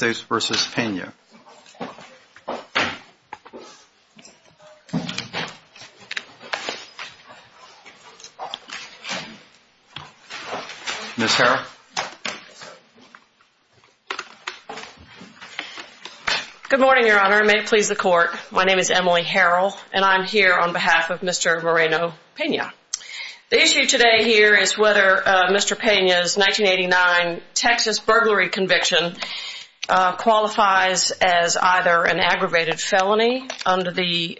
Good morning, your honor. May it please the court, my name is Emily Harrell and I'm here on behalf of Mr. Moreno Pena. The issue today here is whether Mr. Pena's 1989 Texas burglary conviction was a direct result of the murder of his wife, Mrs. Moreno Pena. Mr. Pena's conviction qualifies as either an aggravated felony under the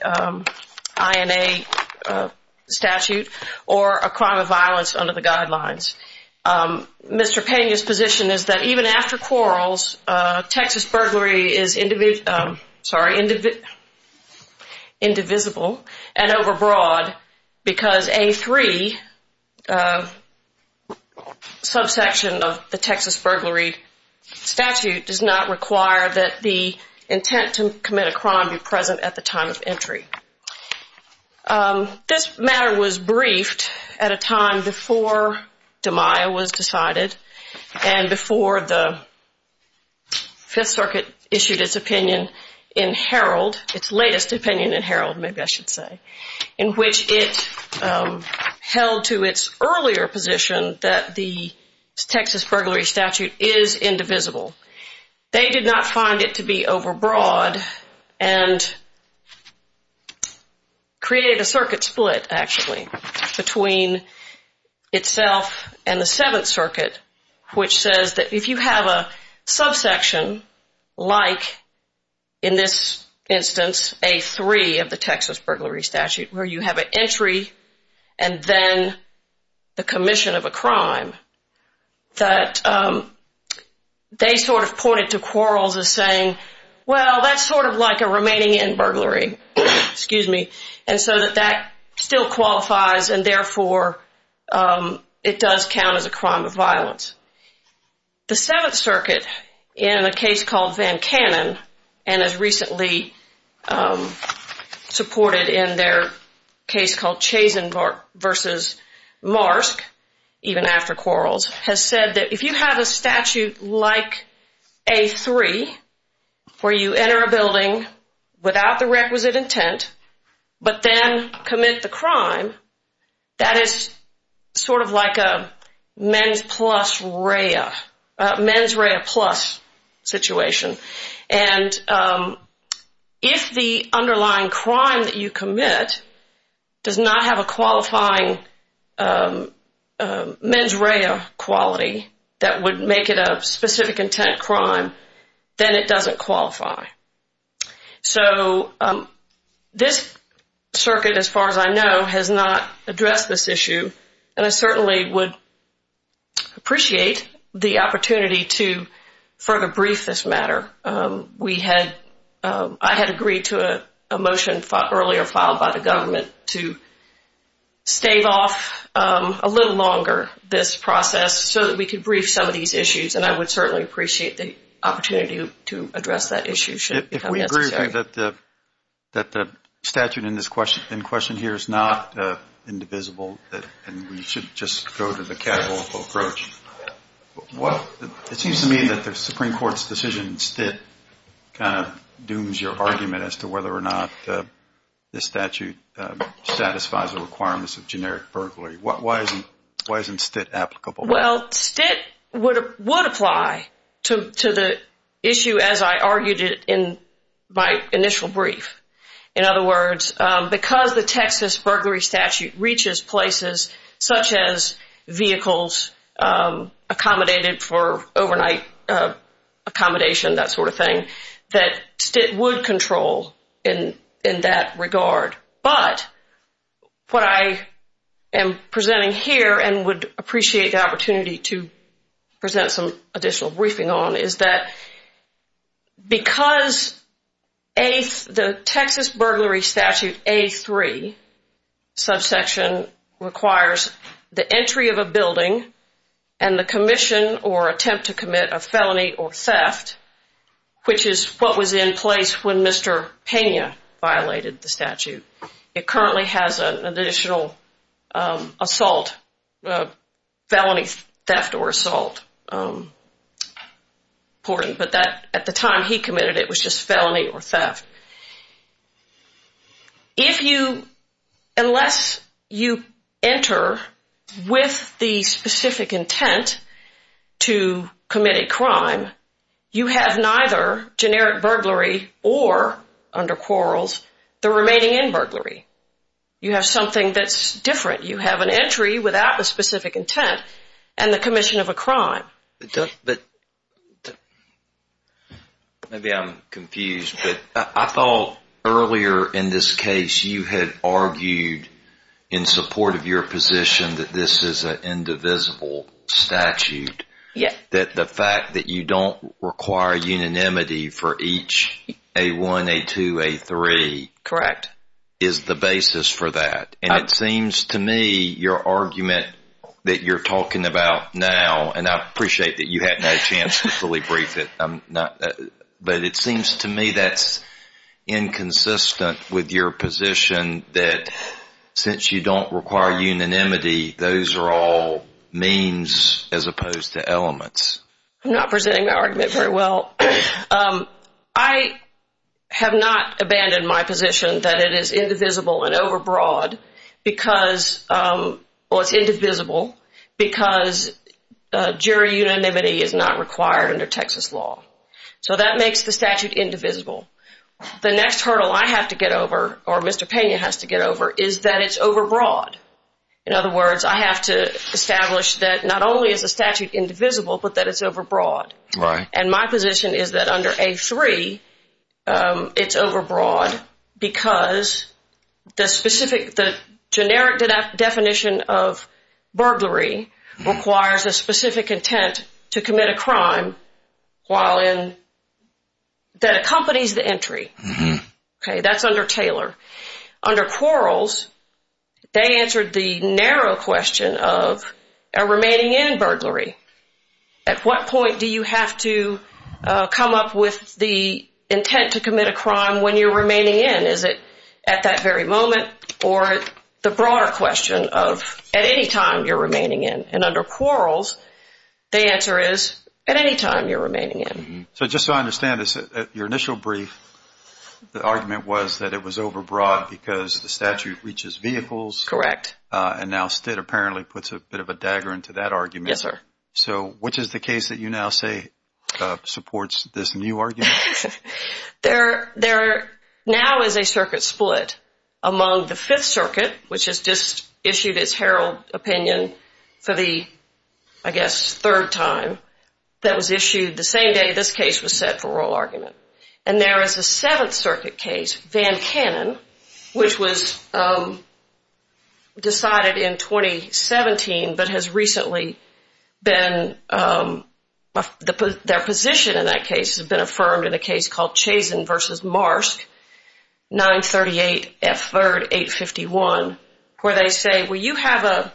INA statute or a crime of violence under the guidelines. Mr. Pena's position is that even after quarrels, Texas burglary is indivisible and overbroad because A3, a subsection of the Texas burglary statute, does not require a conviction. It does not require that the intent to commit a crime be present at the time of entry. This matter was briefed at a time before DiMaio was decided and before the Fifth Circuit issued its opinion in Herald, its latest opinion in Herald, maybe I should say, in which it held to its earlier position that the Texas burglary statute is indivisible. They did not find it to be overbroad and created a circuit split actually between itself and the Seventh Circuit which says that if you have a subsection like in this instance A3 of the Texas burglary statute where you have an entry and then the commission of a crime, that they sort of pointed to quarrels as saying well that's sort of like a remaining in burglary and so that still qualifies and therefore it does count as a crime of violence. The Seventh Circuit in a case called Van Cannon and as recently supported in their case called Chazen v. Marsk, even after quarrels, has said that if you have a statute like A3 where you enter a building without the requisite intent but then commit the crime, that is sort of like a mens rea plus situation and if the underlying crime that you commit does not have a qualifying mens rea quality that would make it a specific intent crime, then it doesn't qualify. So this circuit as far as I know has not addressed this issue and I certainly would appreciate the opportunity to further brief this matter. I had agreed to a motion earlier filed by the government to stave off a little longer this process so that we could brief some of these issues and I would certainly appreciate the opportunity to address that issue should it become necessary. I think that the statute in question here is not indivisible and we should just go to the casual approach. It seems to me that the Supreme Court's decision in Stitt kind of dooms your argument as to whether or not this statute satisfies the requirements of generic burglary. Why isn't Stitt applicable? Well, Stitt would apply to the issue as I argued it in my initial brief. In other words, because the Texas burglary statute reaches places such as vehicles accommodated for overnight accommodation, that sort of thing, that Stitt would control in that regard. But what I am presenting here and would appreciate the opportunity to present some additional briefing on is that because the Texas burglary statute A3 subsection requires the entry of a building and the commission or attempt to commit a felony or theft, which is what was in place when Mr. Pena violated the statute. It currently has an additional assault, felony theft or assault reporting, but at the time he committed it was just felony or theft. If you, unless you enter with the specific intent to commit a crime, you have neither generic burglary or, under quarrels, the remaining in burglary. You have something that's different. You have an entry without the specific intent and the commission of a crime. Maybe I'm confused, but I thought earlier in this case you had argued in support of your position that this is an indivisible statute. Yes. That the fact that you don't require unanimity for each A1, A2, A3. Correct. That is the basis for that. And it seems to me your argument that you're talking about now, and I appreciate that you had no chance to fully brief it, but it seems to me that's inconsistent with your position that since you don't require unanimity, those are all means as opposed to elements. I'm not presenting my argument very well. I have not abandoned my position that it is indivisible and overbroad because, well, it's indivisible because jury unanimity is not required under Texas law. So that makes the statute indivisible. The next hurdle I have to get over, or Mr. Pena has to get over, is that it's overbroad. In other words, I have to establish that not only is the statute indivisible, but that it's overbroad. Right. And my position is that under A3, it's overbroad because the generic definition of burglary requires a specific intent to commit a crime that accompanies the entry. Okay. That's under Taylor. Under Quarles, they answered the narrow question of remaining in burglary. At what point do you have to come up with the intent to commit a crime when you're remaining in? Is it at that very moment or the broader question of at any time you're remaining in? And under Quarles, the answer is at any time you're remaining in. So just so I understand this, your initial brief, the argument was that it was overbroad because the statute reaches vehicles. Correct. And now Stitt apparently puts a bit of a dagger into that argument. Yes, sir. So which is the case that you now say supports this new argument? There now is a circuit split among the Fifth Circuit, which has just issued its Herald opinion for the, I guess, third time. That was issued the same day this case was set for oral argument. And there is a Seventh Circuit case, Van Cannon, which was decided in 2017 but has recently been, their position in that case has been affirmed in a case called Chazen v. Marsk, 938 F. 3rd, 851, where they say, well, you have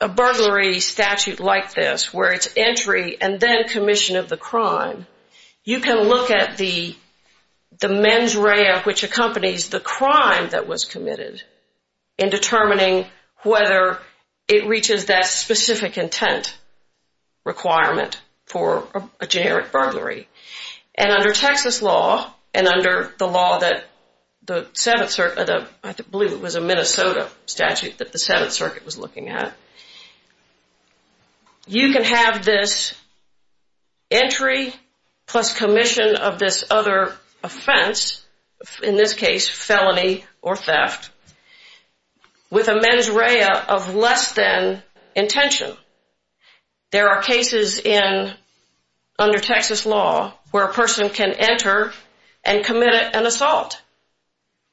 a burglary statute like this where it's entry and then commission of the crime. You can look at the mens rea, which accompanies the crime that was committed, in determining whether it reaches that specific intent requirement for a generic burglary. And under Texas law and under the law that the Seventh Circuit, I believe it was a Minnesota statute that the Seventh Circuit was looking at, you can have this entry plus commission of this other offense, in this case felony or theft, with a mens rea of less than intention. There are cases under Texas law where a person can enter and commit an assault.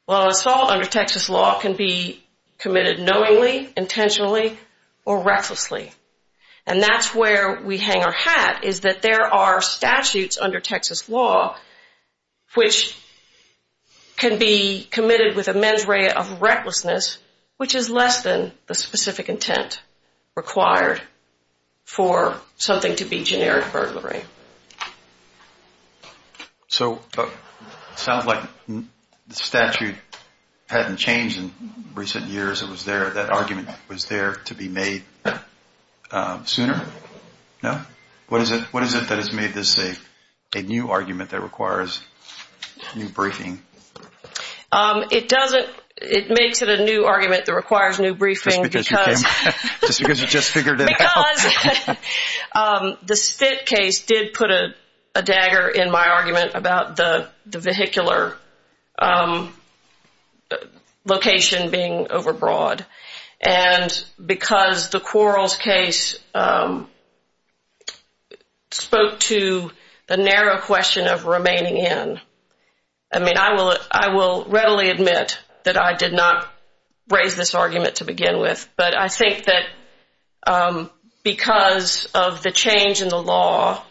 Well, assault under Texas law can be committed knowingly, intentionally, or recklessly. And that's where we hang our hat, is that there are statutes under Texas law which can be committed with a mens rea of recklessness, which is less than the specific intent required for something to be generic burglary. So it sounds like the statute hadn't changed in recent years. It was there. That argument was there to be made sooner. No? What is it that has made this a new argument that requires new briefing? It doesn't. It makes it a new argument that requires new briefing. Just because you just figured it out. The Spitt case did put a dagger in my argument about the vehicular location being overbroad. And because the Quarles case spoke to the narrow question of remaining in, I mean, I will readily admit that I did not raise this argument to begin with. But I think that because of the change in the law,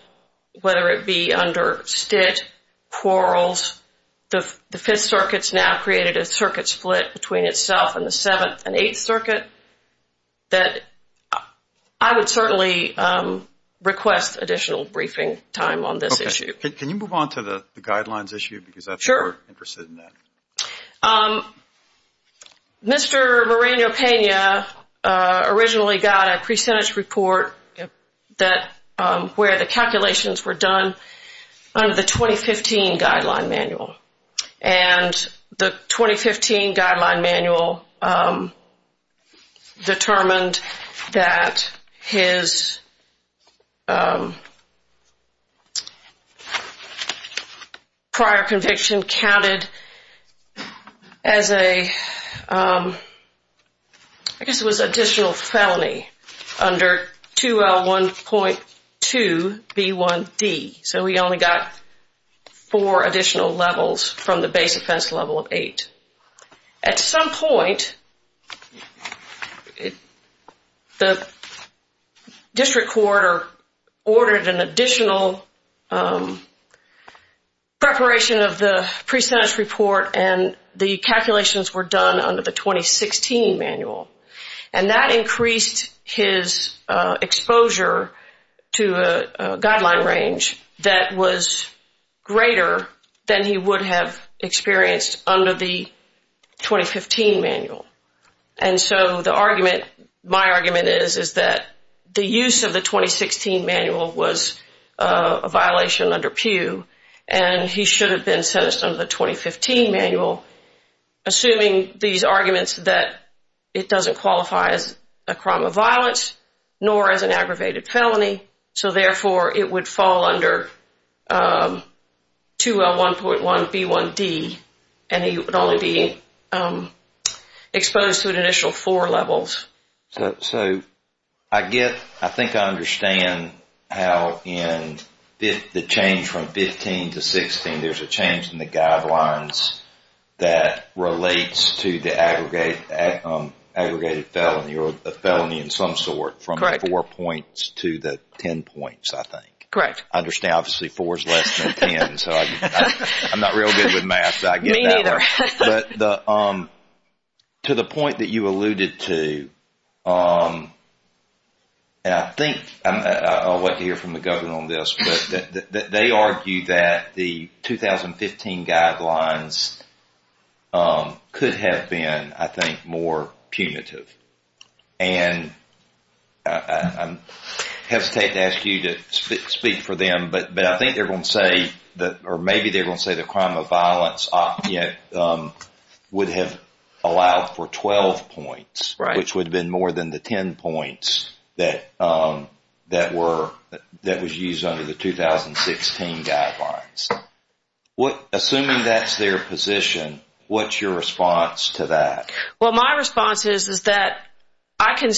whether it be under Stitt, Quarles, the Fifth Circuit has now created a circuit split between itself and the Seventh and Eighth Circuit, that I would certainly request additional briefing time on this issue. Okay. Can you move on to the guidelines issue? Sure. Because I think we're interested in that. Mr. Moreno-Pena originally got a pre-sentence report where the calculations were done under the 2015 guideline manual. And the 2015 guideline manual determined that his prior conviction counted as a, I guess it was additional felony under 2L1.2B1D. So he only got four additional levels from the base offense level of eight. At some point, the district court ordered an additional preparation of the pre-sentence report and the calculations were done under the 2016 manual. And that increased his exposure to a guideline range that was greater than he would have experienced under the 2015 manual. And so the argument, my argument is, is that the use of the 2016 manual was a violation under Pew and he should have been sentenced under the 2015 manual, assuming these arguments that it doesn't qualify as a crime of violence nor as an aggravated felony. So therefore, it would fall under 2L1.1B1D and he would only be exposed to an initial four levels. So I get, I think I understand how in the change from 15 to 16, there's a change in the guidelines that relates to the aggregated felony or a felony in some sort from the four points to the ten points, I think. Correct. I understand, obviously, four is less than ten, so I'm not real good with math. Me neither. But to the point that you alluded to, and I think I'll wait to hear from the government on this, but they argue that the 2015 guidelines could have been, I think, more punitive. And I hesitate to ask you to speak for them, but I think they're going to say, or maybe they're going to say the crime of violence would have allowed for 12 points, which would have been more than the ten points that was used under the 2016 guidelines. Assuming that's their position, what's your response to that? Well, my response is that I can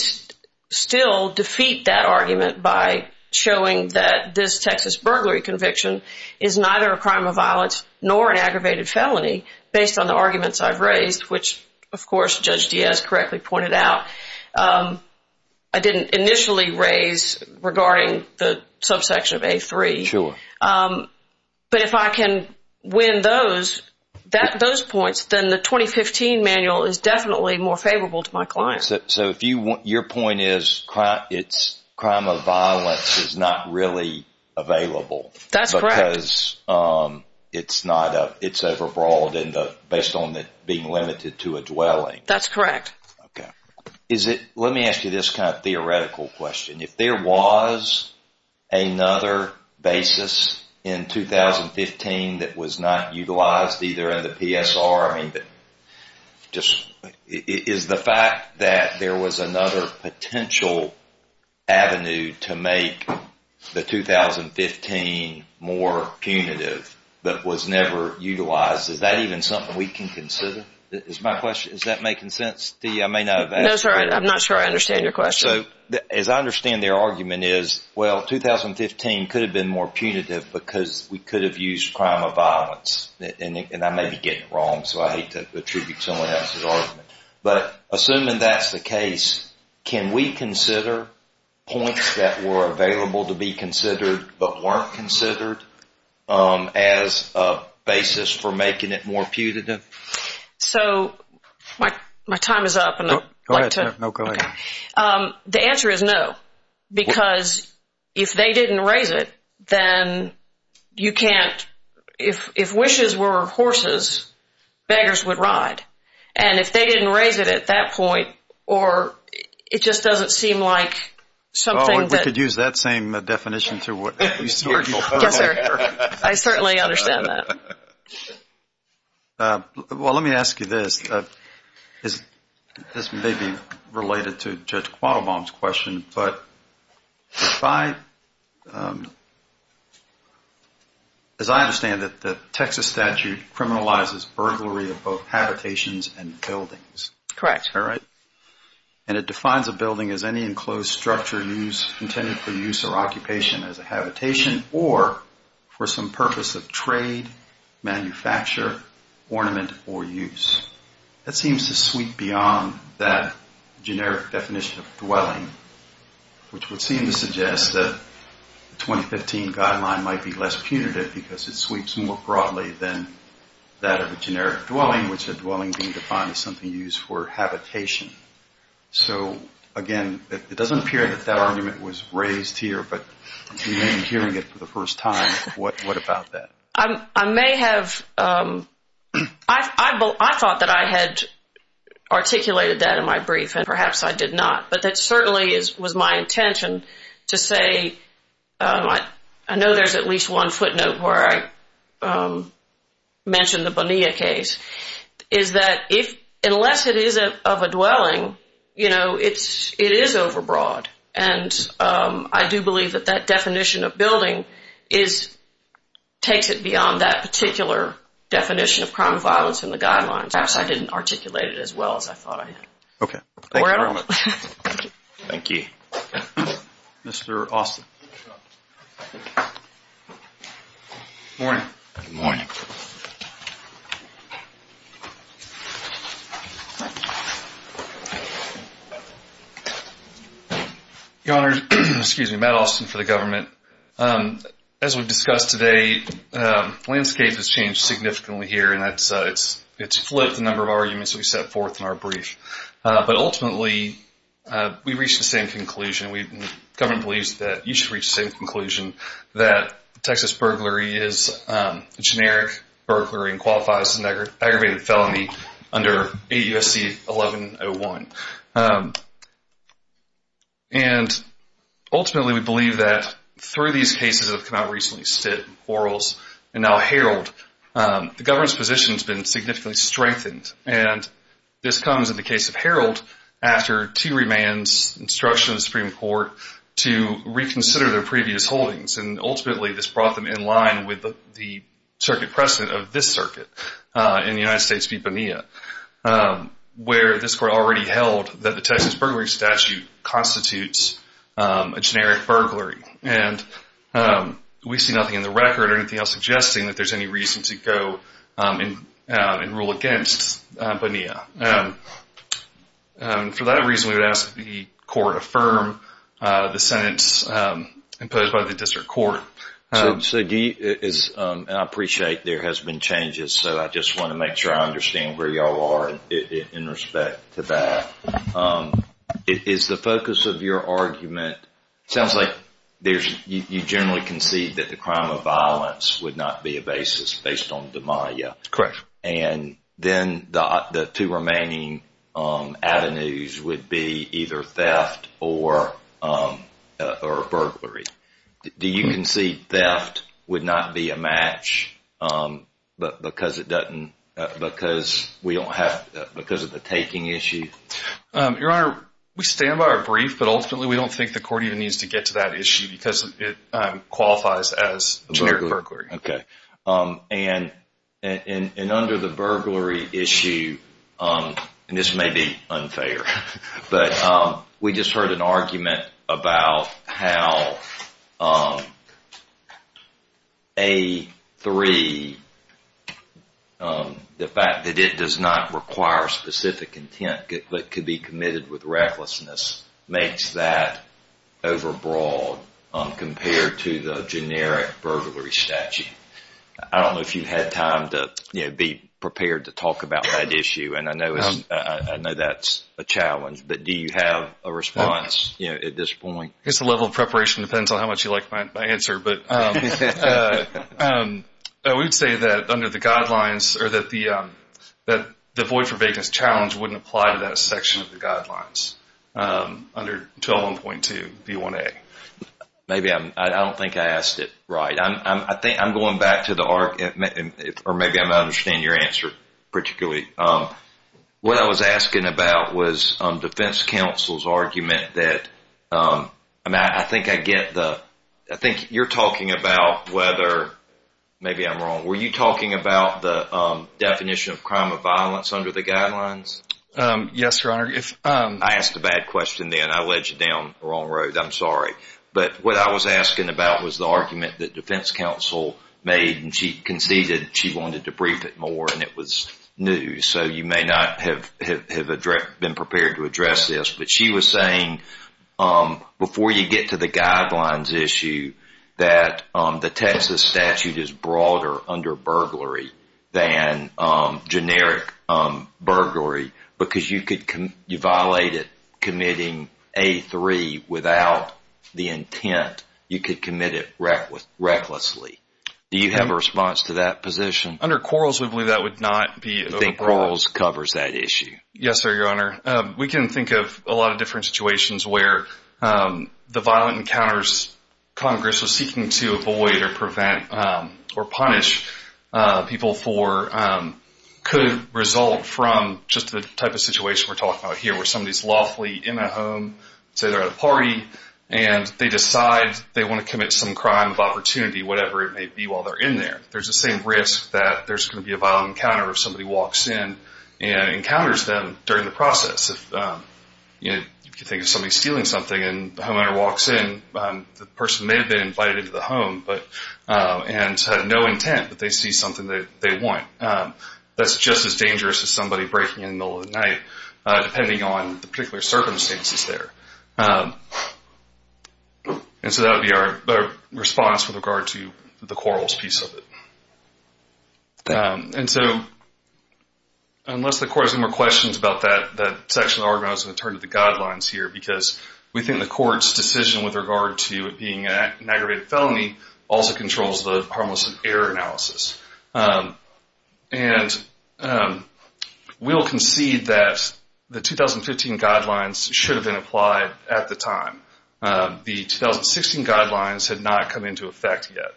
still defeat that argument by showing that this Texas burglary conviction is neither a crime of violence nor an aggravated felony based on the arguments I've raised, which, of course, Judge Diaz correctly pointed out, I didn't initially raise regarding the subsection of A3. Sure. But if I can win those points, then the 2015 manual is definitely more favorable to my clients. So your point is crime of violence is not really available. That's correct. Because it's overbroad based on it being limited to a dwelling. That's correct. Let me ask you this kind of theoretical question. If there was another basis in 2015 that was not utilized either in the PSR, I mean, is the fact that there was another potential avenue to make the 2015 more punitive that was never utilized, is that even something we can consider? Is that making sense to you? I'm not sure I understand your question. As I understand their argument is, well, 2015 could have been more punitive because we could have used crime of violence. And I may be getting it wrong, so I hate to attribute someone else's argument. But assuming that's the case, can we consider points that were available to be considered but weren't considered as a basis for making it more punitive? So my time is up. No, go ahead. The answer is no. Because if they didn't raise it, then you can't ‑‑ if wishes were horses, beggars would ride. And if they didn't raise it at that point, or it just doesn't seem like something that ‑‑ We could use that same definition to ‑‑ Yes, sir. I certainly understand that. Well, let me ask you this. This may be related to Judge Quattlebaum's question, but if I ‑‑ as I understand it, the Texas statute criminalizes burglary of both habitations and buildings. Correct. All right. And it defines a building as any enclosed structure intended for use or occupation as a habitation or for some purpose of trade, manufacture, ornament, or use. That seems to sweep beyond that generic definition of dwelling, which would seem to suggest that the 2015 guideline might be less punitive because it sweeps more broadly than that of a generic dwelling, which a dwelling being defined as something used for habitation. So, again, it doesn't appear that that argument was raised here, but you may be hearing it for the first time. What about that? I may have ‑‑ I thought that I had articulated that in my brief, and perhaps I did not. But that certainly was my intention to say, I know there's at least one footnote where I mentioned the Bonilla case, is that unless it is of a dwelling, you know, it is overbroad. And I do believe that that definition of building takes it beyond that particular definition of crime and violence in the guidelines. Perhaps I didn't articulate it as well as I thought I had. Okay. Thank you very much. Thank you. Mr. Austin. Morning. Morning. Your Honor, excuse me, Matt Austin for the government. As we discussed today, landscape has changed significantly here, and it's flipped the number of arguments we set forth in our brief. But ultimately, we reached the same conclusion. The government believes that you should reach the same conclusion, that Texas burglary is a generic burglary and qualifies as an aggravated felony under 8 U.S.C. 1101. And ultimately, we believe that through these cases that have come out recently, Stitt, Quarles, and now Herold, the government's position has been significantly strengthened. And this comes in the case of Herold after two remands, instruction of the Supreme Court to reconsider their previous holdings. And ultimately, this brought them in line with the circuit precedent of this circuit in the United States v. Bonilla, where this Court already held that the Texas burglary statute constitutes a generic burglary. And we see nothing in the record or anything else suggesting that there's any reason to go and rule against Bonilla. For that reason, we would ask that the Court affirm the sentence imposed by the District Court. So, Guy, and I appreciate there has been changes, so I just want to make sure I understand where y'all are in respect to that. Is the focus of your argument, it sounds like you generally concede that the crime of violence would not be a basis based on demaia. Correct. And then the two remaining avenues would be either theft or burglary. Do you concede theft would not be a match because of the taking issue? Your Honor, we stand by our brief, but ultimately we don't think the Court even needs to get to that issue because it qualifies as a generic burglary. Okay. And under the burglary issue, and this may be unfair, but we just heard an argument about how A3, the fact that it does not require specific intent but could be committed with recklessness, makes that overbroad compared to the generic burglary statute. I don't know if you've had time to be prepared to talk about that issue, and I know that's a challenge, but do you have a response at this point? I guess the level of preparation depends on how much you like my answer. But we would say that under the guidelines or that the void for vagueness challenge wouldn't apply to that section of the guidelines under 121.2B1A. Maybe I don't think I asked it right. I think I'm going back to the argument, or maybe I'm not understanding your answer particularly. What I was asking about was defense counsel's argument that, I think you're talking about whether, maybe I'm wrong, were you talking about the definition of crime of violence under the guidelines? Yes, Your Honor. I asked a bad question then. I led you down the wrong road. I'm sorry. But what I was asking about was the argument that defense counsel made, and she conceded she wanted to brief it more, and it was new. So you may not have been prepared to address this, but she was saying, before you get to the guidelines issue, that the Texas statute is broader under burglary than generic burglary because you violated committing A3 without the intent. You could commit it recklessly. Do you have a response to that position? Under Quarles, we believe that would not be overboard. You think Quarles covers that issue? Yes, sir, Your Honor. We can think of a lot of different situations where the violent encounters Congress was seeking to avoid or prevent or punish people for could result from just the type of situation we're talking about here, where somebody's lawfully in a home, say they're at a party, and they decide they want to commit some crime of opportunity, whatever it may be, while they're in there. There's the same risk that there's going to be a violent encounter if somebody walks in and encounters them during the process. If you think of somebody stealing something and the homeowner walks in, the person may have been invited into the home and had no intent, but they see something that they want. That's just as dangerous as somebody breaking in in the middle of the night, depending on the particular circumstances there. And so that would be our response with regard to the Quarles piece of it. And so, unless the Court has any more questions about that section of the Ordinance, I'm going to turn to the guidelines here, because we think the Court's decision with regard to it being an aggravated felony also controls the harmless error analysis. And we'll concede that the 2015 guidelines should have been applied at the time. The 2016 guidelines had not come into effect yet.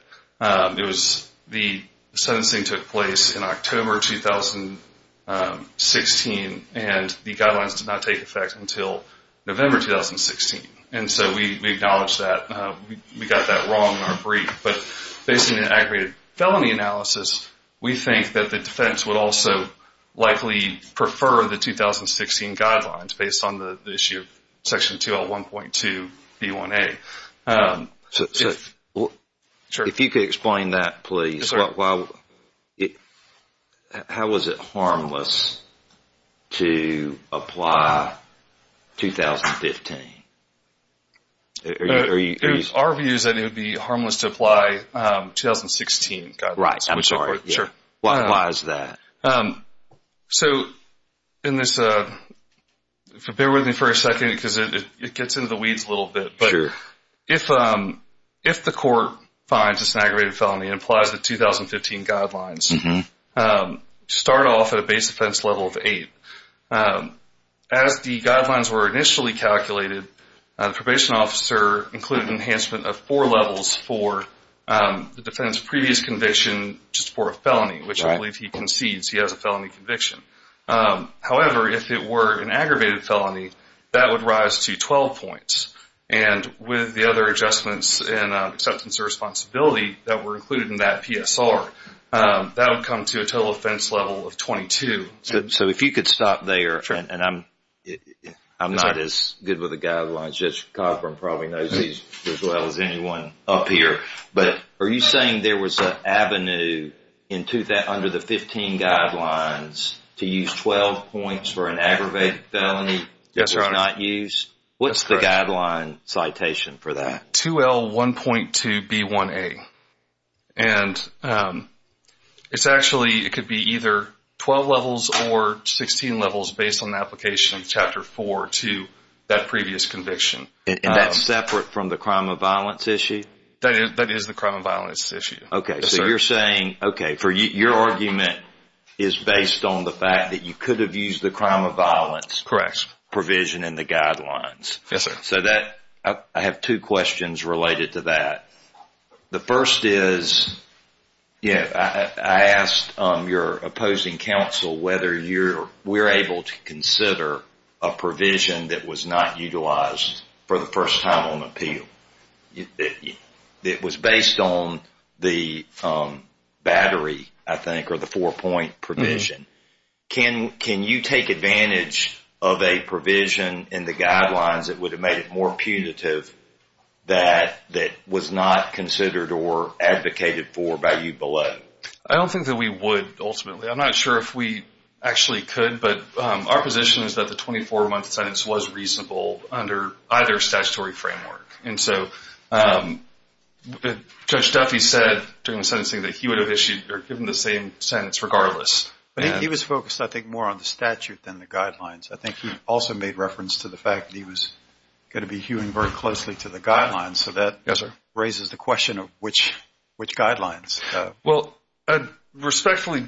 The sentencing took place in October 2016, and the guidelines did not take effect until November 2016. And so we acknowledge that. We got that wrong in our brief. But based on an aggravated felony analysis, we think that the defense would also likely prefer the 2016 guidelines, based on the issue of Section 2L1.2B1A. If you could explain that, please. How was it harmless to apply 2015? Our view is that it would be harmless to apply 2016 guidelines. Right. I'm sorry. Why is that? So, in this, bear with me for a second because it gets into the weeds a little bit. But if the Court finds it's an aggravated felony and applies the 2015 guidelines, start off at a base offense level of 8. As the guidelines were initially calculated, the probation officer included enhancement of four levels for the defendant's previous conviction just for a felony, which I believe he concedes he has a felony conviction. However, if it were an aggravated felony, that would rise to 12 points. And with the other adjustments in acceptance of responsibility that were included in that PSR, that would come to a total offense level of 22. So if you could stop there, and I'm not as good with the guidelines. Judge Cosburn probably knows these as well as anyone up here. But are you saying there was an avenue under the 15 guidelines to use 12 points for an aggravated felony? Yes, Your Honor. What's the guideline citation for that? 2L1.2B1A. And it's actually, it could be either 12 levels or 16 levels based on the application of Chapter 4 to that previous conviction. And that's separate from the crime of violence issue? That is the crime of violence issue. Okay, so you're saying, okay, your argument is based on the fact that you could have used the crime of violence provision in the guidelines. Yes, sir. So that, I have two questions related to that. The first is, I asked your opposing counsel whether we're able to consider a provision that was not utilized for the first time on appeal. It was based on the battery, I think, or the four-point provision. Can you take advantage of a provision in the guidelines that would have made it more punitive that was not considered or advocated for by you below? I don't think that we would, ultimately. I'm not sure if we actually could. But our position is that the 24-month sentence was reasonable under either statutory framework. And so Judge Duffy said during the sentencing that he would have issued or given the same sentence regardless. He was focused, I think, more on the statute than the guidelines. I think he also made reference to the fact that he was going to be hewing very closely to the guidelines. So that raises the question of which guidelines. Well, respectfully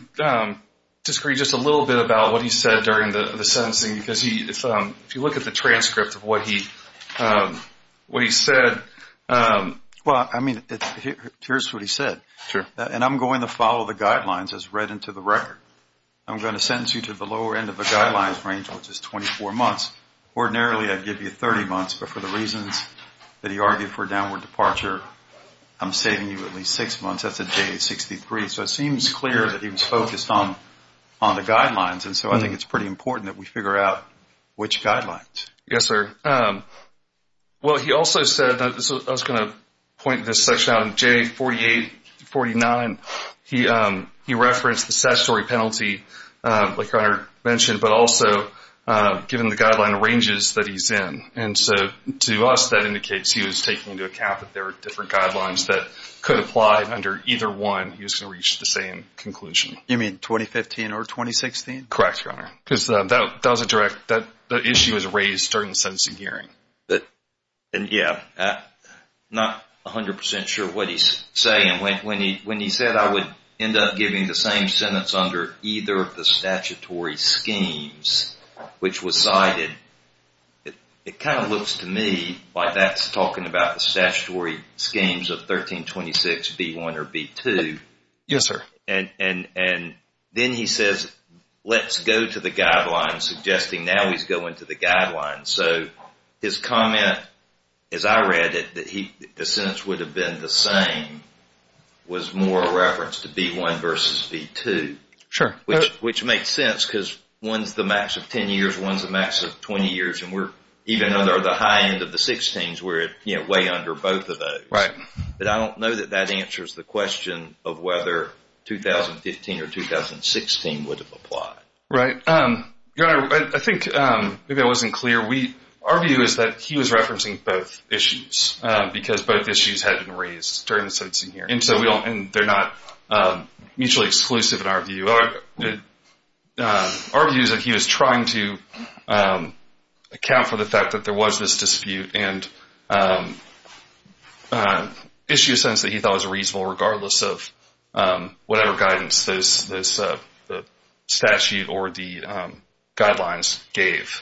disagree just a little bit about what he said during the sentencing. Because if you look at the transcript of what he said. Well, I mean, here's what he said. Sure. And I'm going to follow the guidelines as read into the record. I'm going to sentence you to the lower end of the guidelines range, which is 24 months. Ordinarily, I'd give you 30 months. But for the reasons that he argued for downward departure, I'm saving you at least six months. That's a J63. So it seems clear that he was focused on the guidelines. And so I think it's pretty important that we figure out which guidelines. Yes, sir. Well, he also said, I was going to point this section out, J48-49. He referenced the statutory penalty, like Ronard mentioned, but also given the guideline ranges that he's in. And so to us, that indicates he was taking into account that there are different guidelines that could apply under either one. He was going to reach the same conclusion. You mean 2015 or 2016? Correct, Your Honor. Because that was a direct issue that was raised during the sentencing hearing. Yeah. Not 100% sure what he's saying. When he said I would end up giving the same sentence under either of the statutory schemes, which was cited, it kind of looks to me like that's talking about the statutory schemes of 1326B1 or B2. Yes, sir. And then he says, let's go to the guidelines, suggesting now he's going to the guidelines. So his comment, as I read it, that the sentence would have been the same, was more a reference to B1 versus B2. Sure. Which makes sense because one's the max of 10 years, one's the max of 20 years. And even though they're the high end of the 16s, we're way under both of those. Right. But I don't know that that answers the question of whether 2015 or 2016 would have applied. Right. Your Honor, I think maybe I wasn't clear. Our view is that he was referencing both issues because both issues had been raised during the sentencing hearing. And they're not mutually exclusive in our view. Our view is that he was trying to account for the fact that there was this dispute and issue a sentence that he thought was reasonable regardless of whatever guidance the statute or the guidelines gave.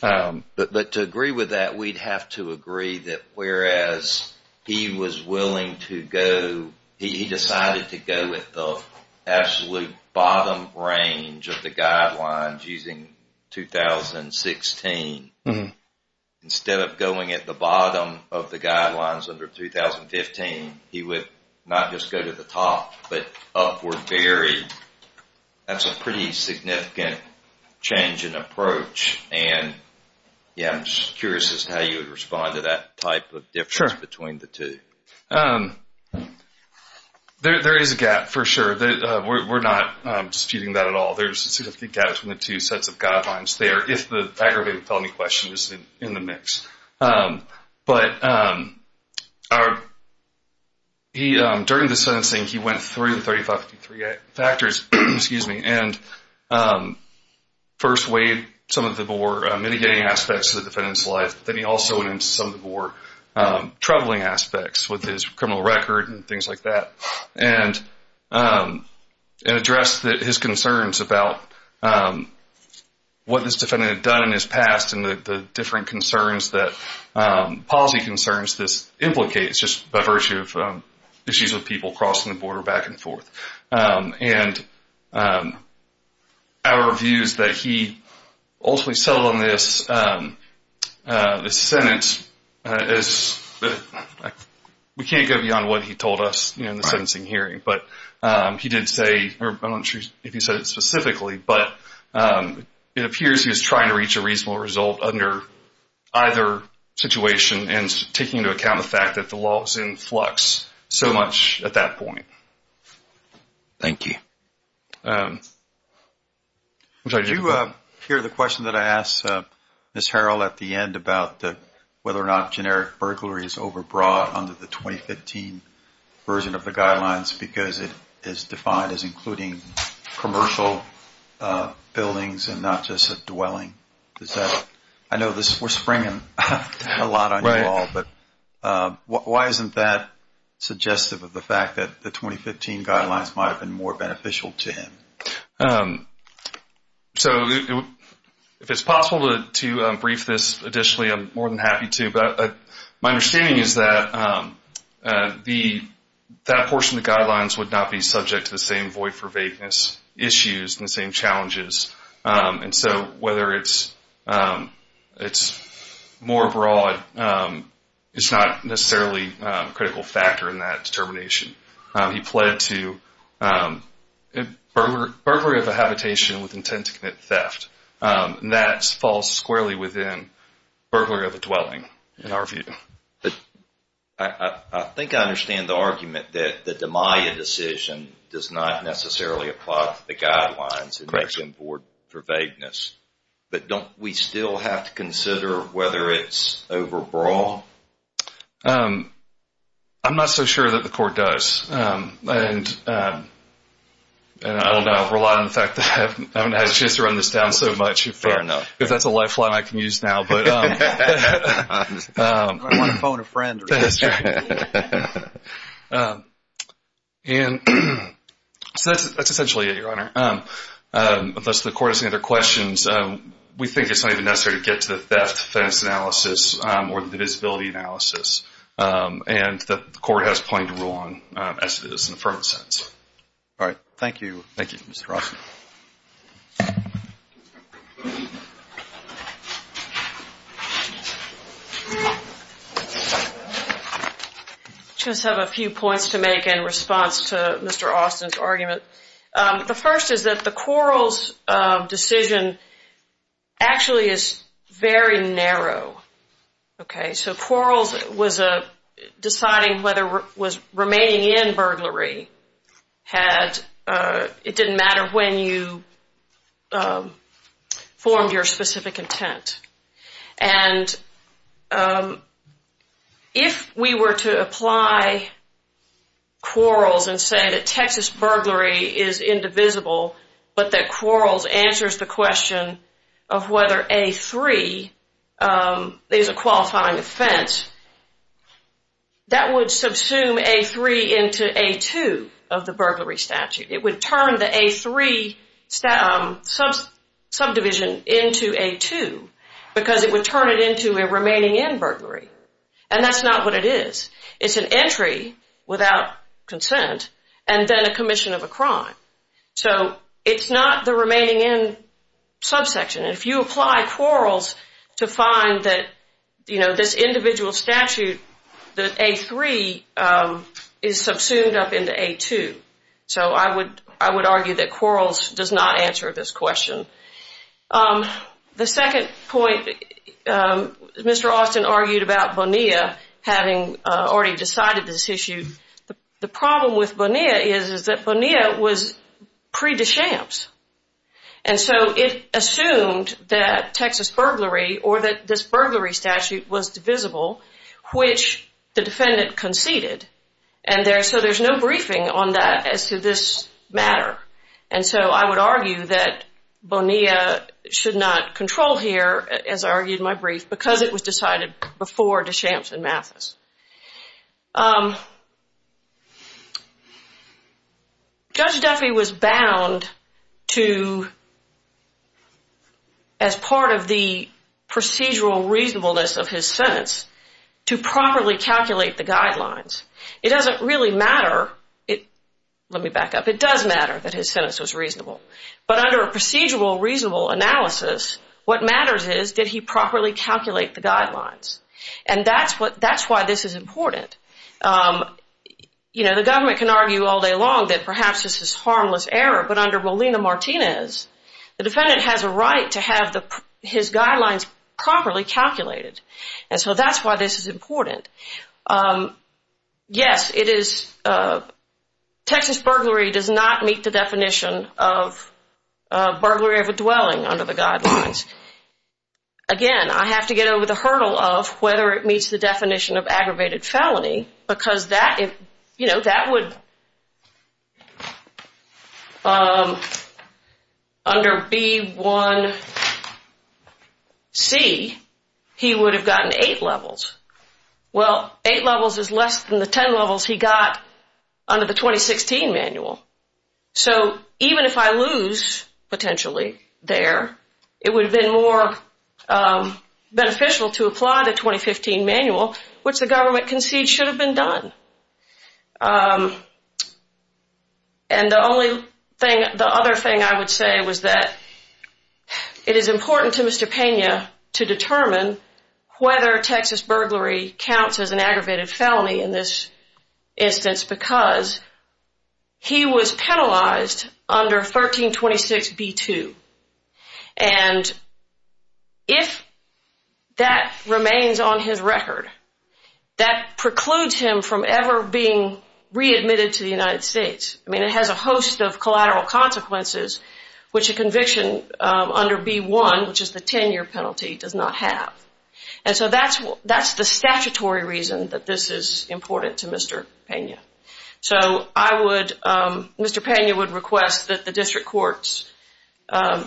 But to agree with that, we'd have to agree that whereas he was willing to go, he decided to go with the absolute bottom range of the guidelines using 2016. Instead of going at the bottom of the guidelines under 2015, he would not just go to the top but upward theory. That's a pretty significant change in approach. And, yeah, I'm just curious as to how you would respond to that type of difference between the two. Sure. There is a gap for sure. We're not disputing that at all. There's a significant gap between the two sets of guidelines there if the aggravated felony question is in the mix. But during the sentencing, he went through the 3553 factors, excuse me, and first weighed some of the more mitigating aspects of the defendant's life. Then he also went into some of the more troubling aspects with his criminal record and things like that and addressed his concerns about what this defendant had done in his past and the different policy concerns this implicates just by virtue of issues with people crossing the border back and forth. And our view is that he ultimately settled on this sentence. We can't go beyond what he told us in the sentencing hearing. But he did say, I'm not sure if he said it specifically, but it appears he was trying to reach a reasonable result under either situation and taking into account the fact that the law was in flux so much at that point. Thank you. Did you hear the question that I asked Ms. Harrell at the end about whether or not generic burglary is overbrought under the 2015 version of the guidelines because it is defined as including commercial buildings and not just a dwelling? I know we're springing a lot on you all, but why isn't that suggestive of the fact that the 2015 guidelines might have been more beneficial to him? So if it's possible to brief this additionally, I'm more than happy to. My understanding is that that portion of the guidelines would not be subject to the same void for vagueness issues and the same challenges. And so whether it's more broad is not necessarily a critical factor in that determination. He pled to burglary of a habitation with intent to commit theft. That falls squarely within burglary of a dwelling in our view. I think I understand the argument that the DeMaia decision does not necessarily apply to the guidelines and makes them void for vagueness. But don't we still have to consider whether it's overbought? I'm not so sure that the court does. And I don't know. I rely on the fact that I haven't had a chance to run this down so much. Fair enough. If that's a lifeline I can use now. I don't want to phone a friend. And so that's essentially it, Your Honor. Unless the court has any other questions, we think it's not even necessary to get to the theft defense analysis or the divisibility analysis. And the court has plenty to rule on as it is in the affirmative sentence. All right. Thank you. Thank you, Mr. Ross. I just have a few points to make in response to Mr. Austin's argument. The first is that the Quarles decision actually is very narrow. Okay. So Quarles was deciding whether remaining in burglary, it didn't matter when you formed your specific intent. And if we were to apply Quarles and say that Texas burglary is indivisible but that Quarles answers the question of whether A-3 is a qualifying offense, that would subsume A-3 into A-2 of the burglary statute. It would turn the A-3 subdivision into A-2 because it would turn it into a remaining in burglary. And that's not what it is. It's an entry without consent and then a commission of a crime. So it's not the remaining in subsection. And if you apply Quarles to find that, you know, this individual statute, that A-3 is subsumed up into A-2. So I would argue that Quarles does not answer this question. The second point, Mr. Austin argued about Bonilla having already decided this issue. The problem with Bonilla is that Bonilla was pre-DeChamps. And so it assumed that Texas burglary or that this burglary statute was divisible, which the defendant conceded. And so there's no briefing on that as to this matter. And so I would argue that Bonilla should not control here, as I argued in my brief, because it was decided before DeChamps and Mathis. Judge Duffy was bound to, as part of the procedural reasonableness of his sentence, to properly calculate the guidelines. It doesn't really matter. Let me back up. It does matter that his sentence was reasonable. But under a procedural reasonable analysis, what matters is did he properly calculate the guidelines. And that's why this is important. You know, the government can argue all day long that perhaps this is harmless error. But under Bolina-Martinez, the defendant has a right to have his guidelines properly calculated. And so that's why this is important. Yes, Texas burglary does not meet the definition of burglary of a dwelling under the guidelines. Again, I have to get over the hurdle of whether it meets the definition of aggravated felony, because that would, under B1C, he would have gotten eight levels. Well, eight levels is less than the ten levels he got under the 2016 manual. So even if I lose, potentially, there, it would have been more beneficial to apply the 2015 manual, which the government concedes should have been done. And the other thing I would say was that it is important to Mr. Pena to determine whether Texas burglary counts as an aggravated felony in this instance, because he was penalized under 1326B2. And if that remains on his record, that precludes him from ever being readmitted to the United States. I mean, it has a host of collateral consequences, which a conviction under B1, which is the 10-year penalty, does not have. And so that's the statutory reason that this is important to Mr. Pena. So I would, Mr. Pena would request that the district court's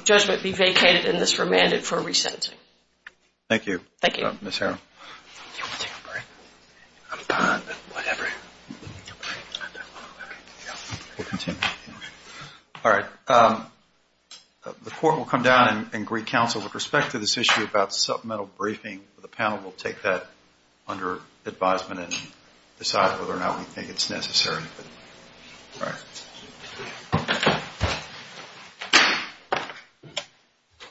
judgment be vacated and this remanded for resentencing. Thank you. Thank you. Ms. Harrell. You want to take a break? I'm fine, but whatever. You want to take a break? I'm fine, but whatever. We'll continue. All right. The court will come down and greet counsel with respect to this issue about supplemental briefing. The panel will take that under advisement and decide whether or not we think it's necessary. All right.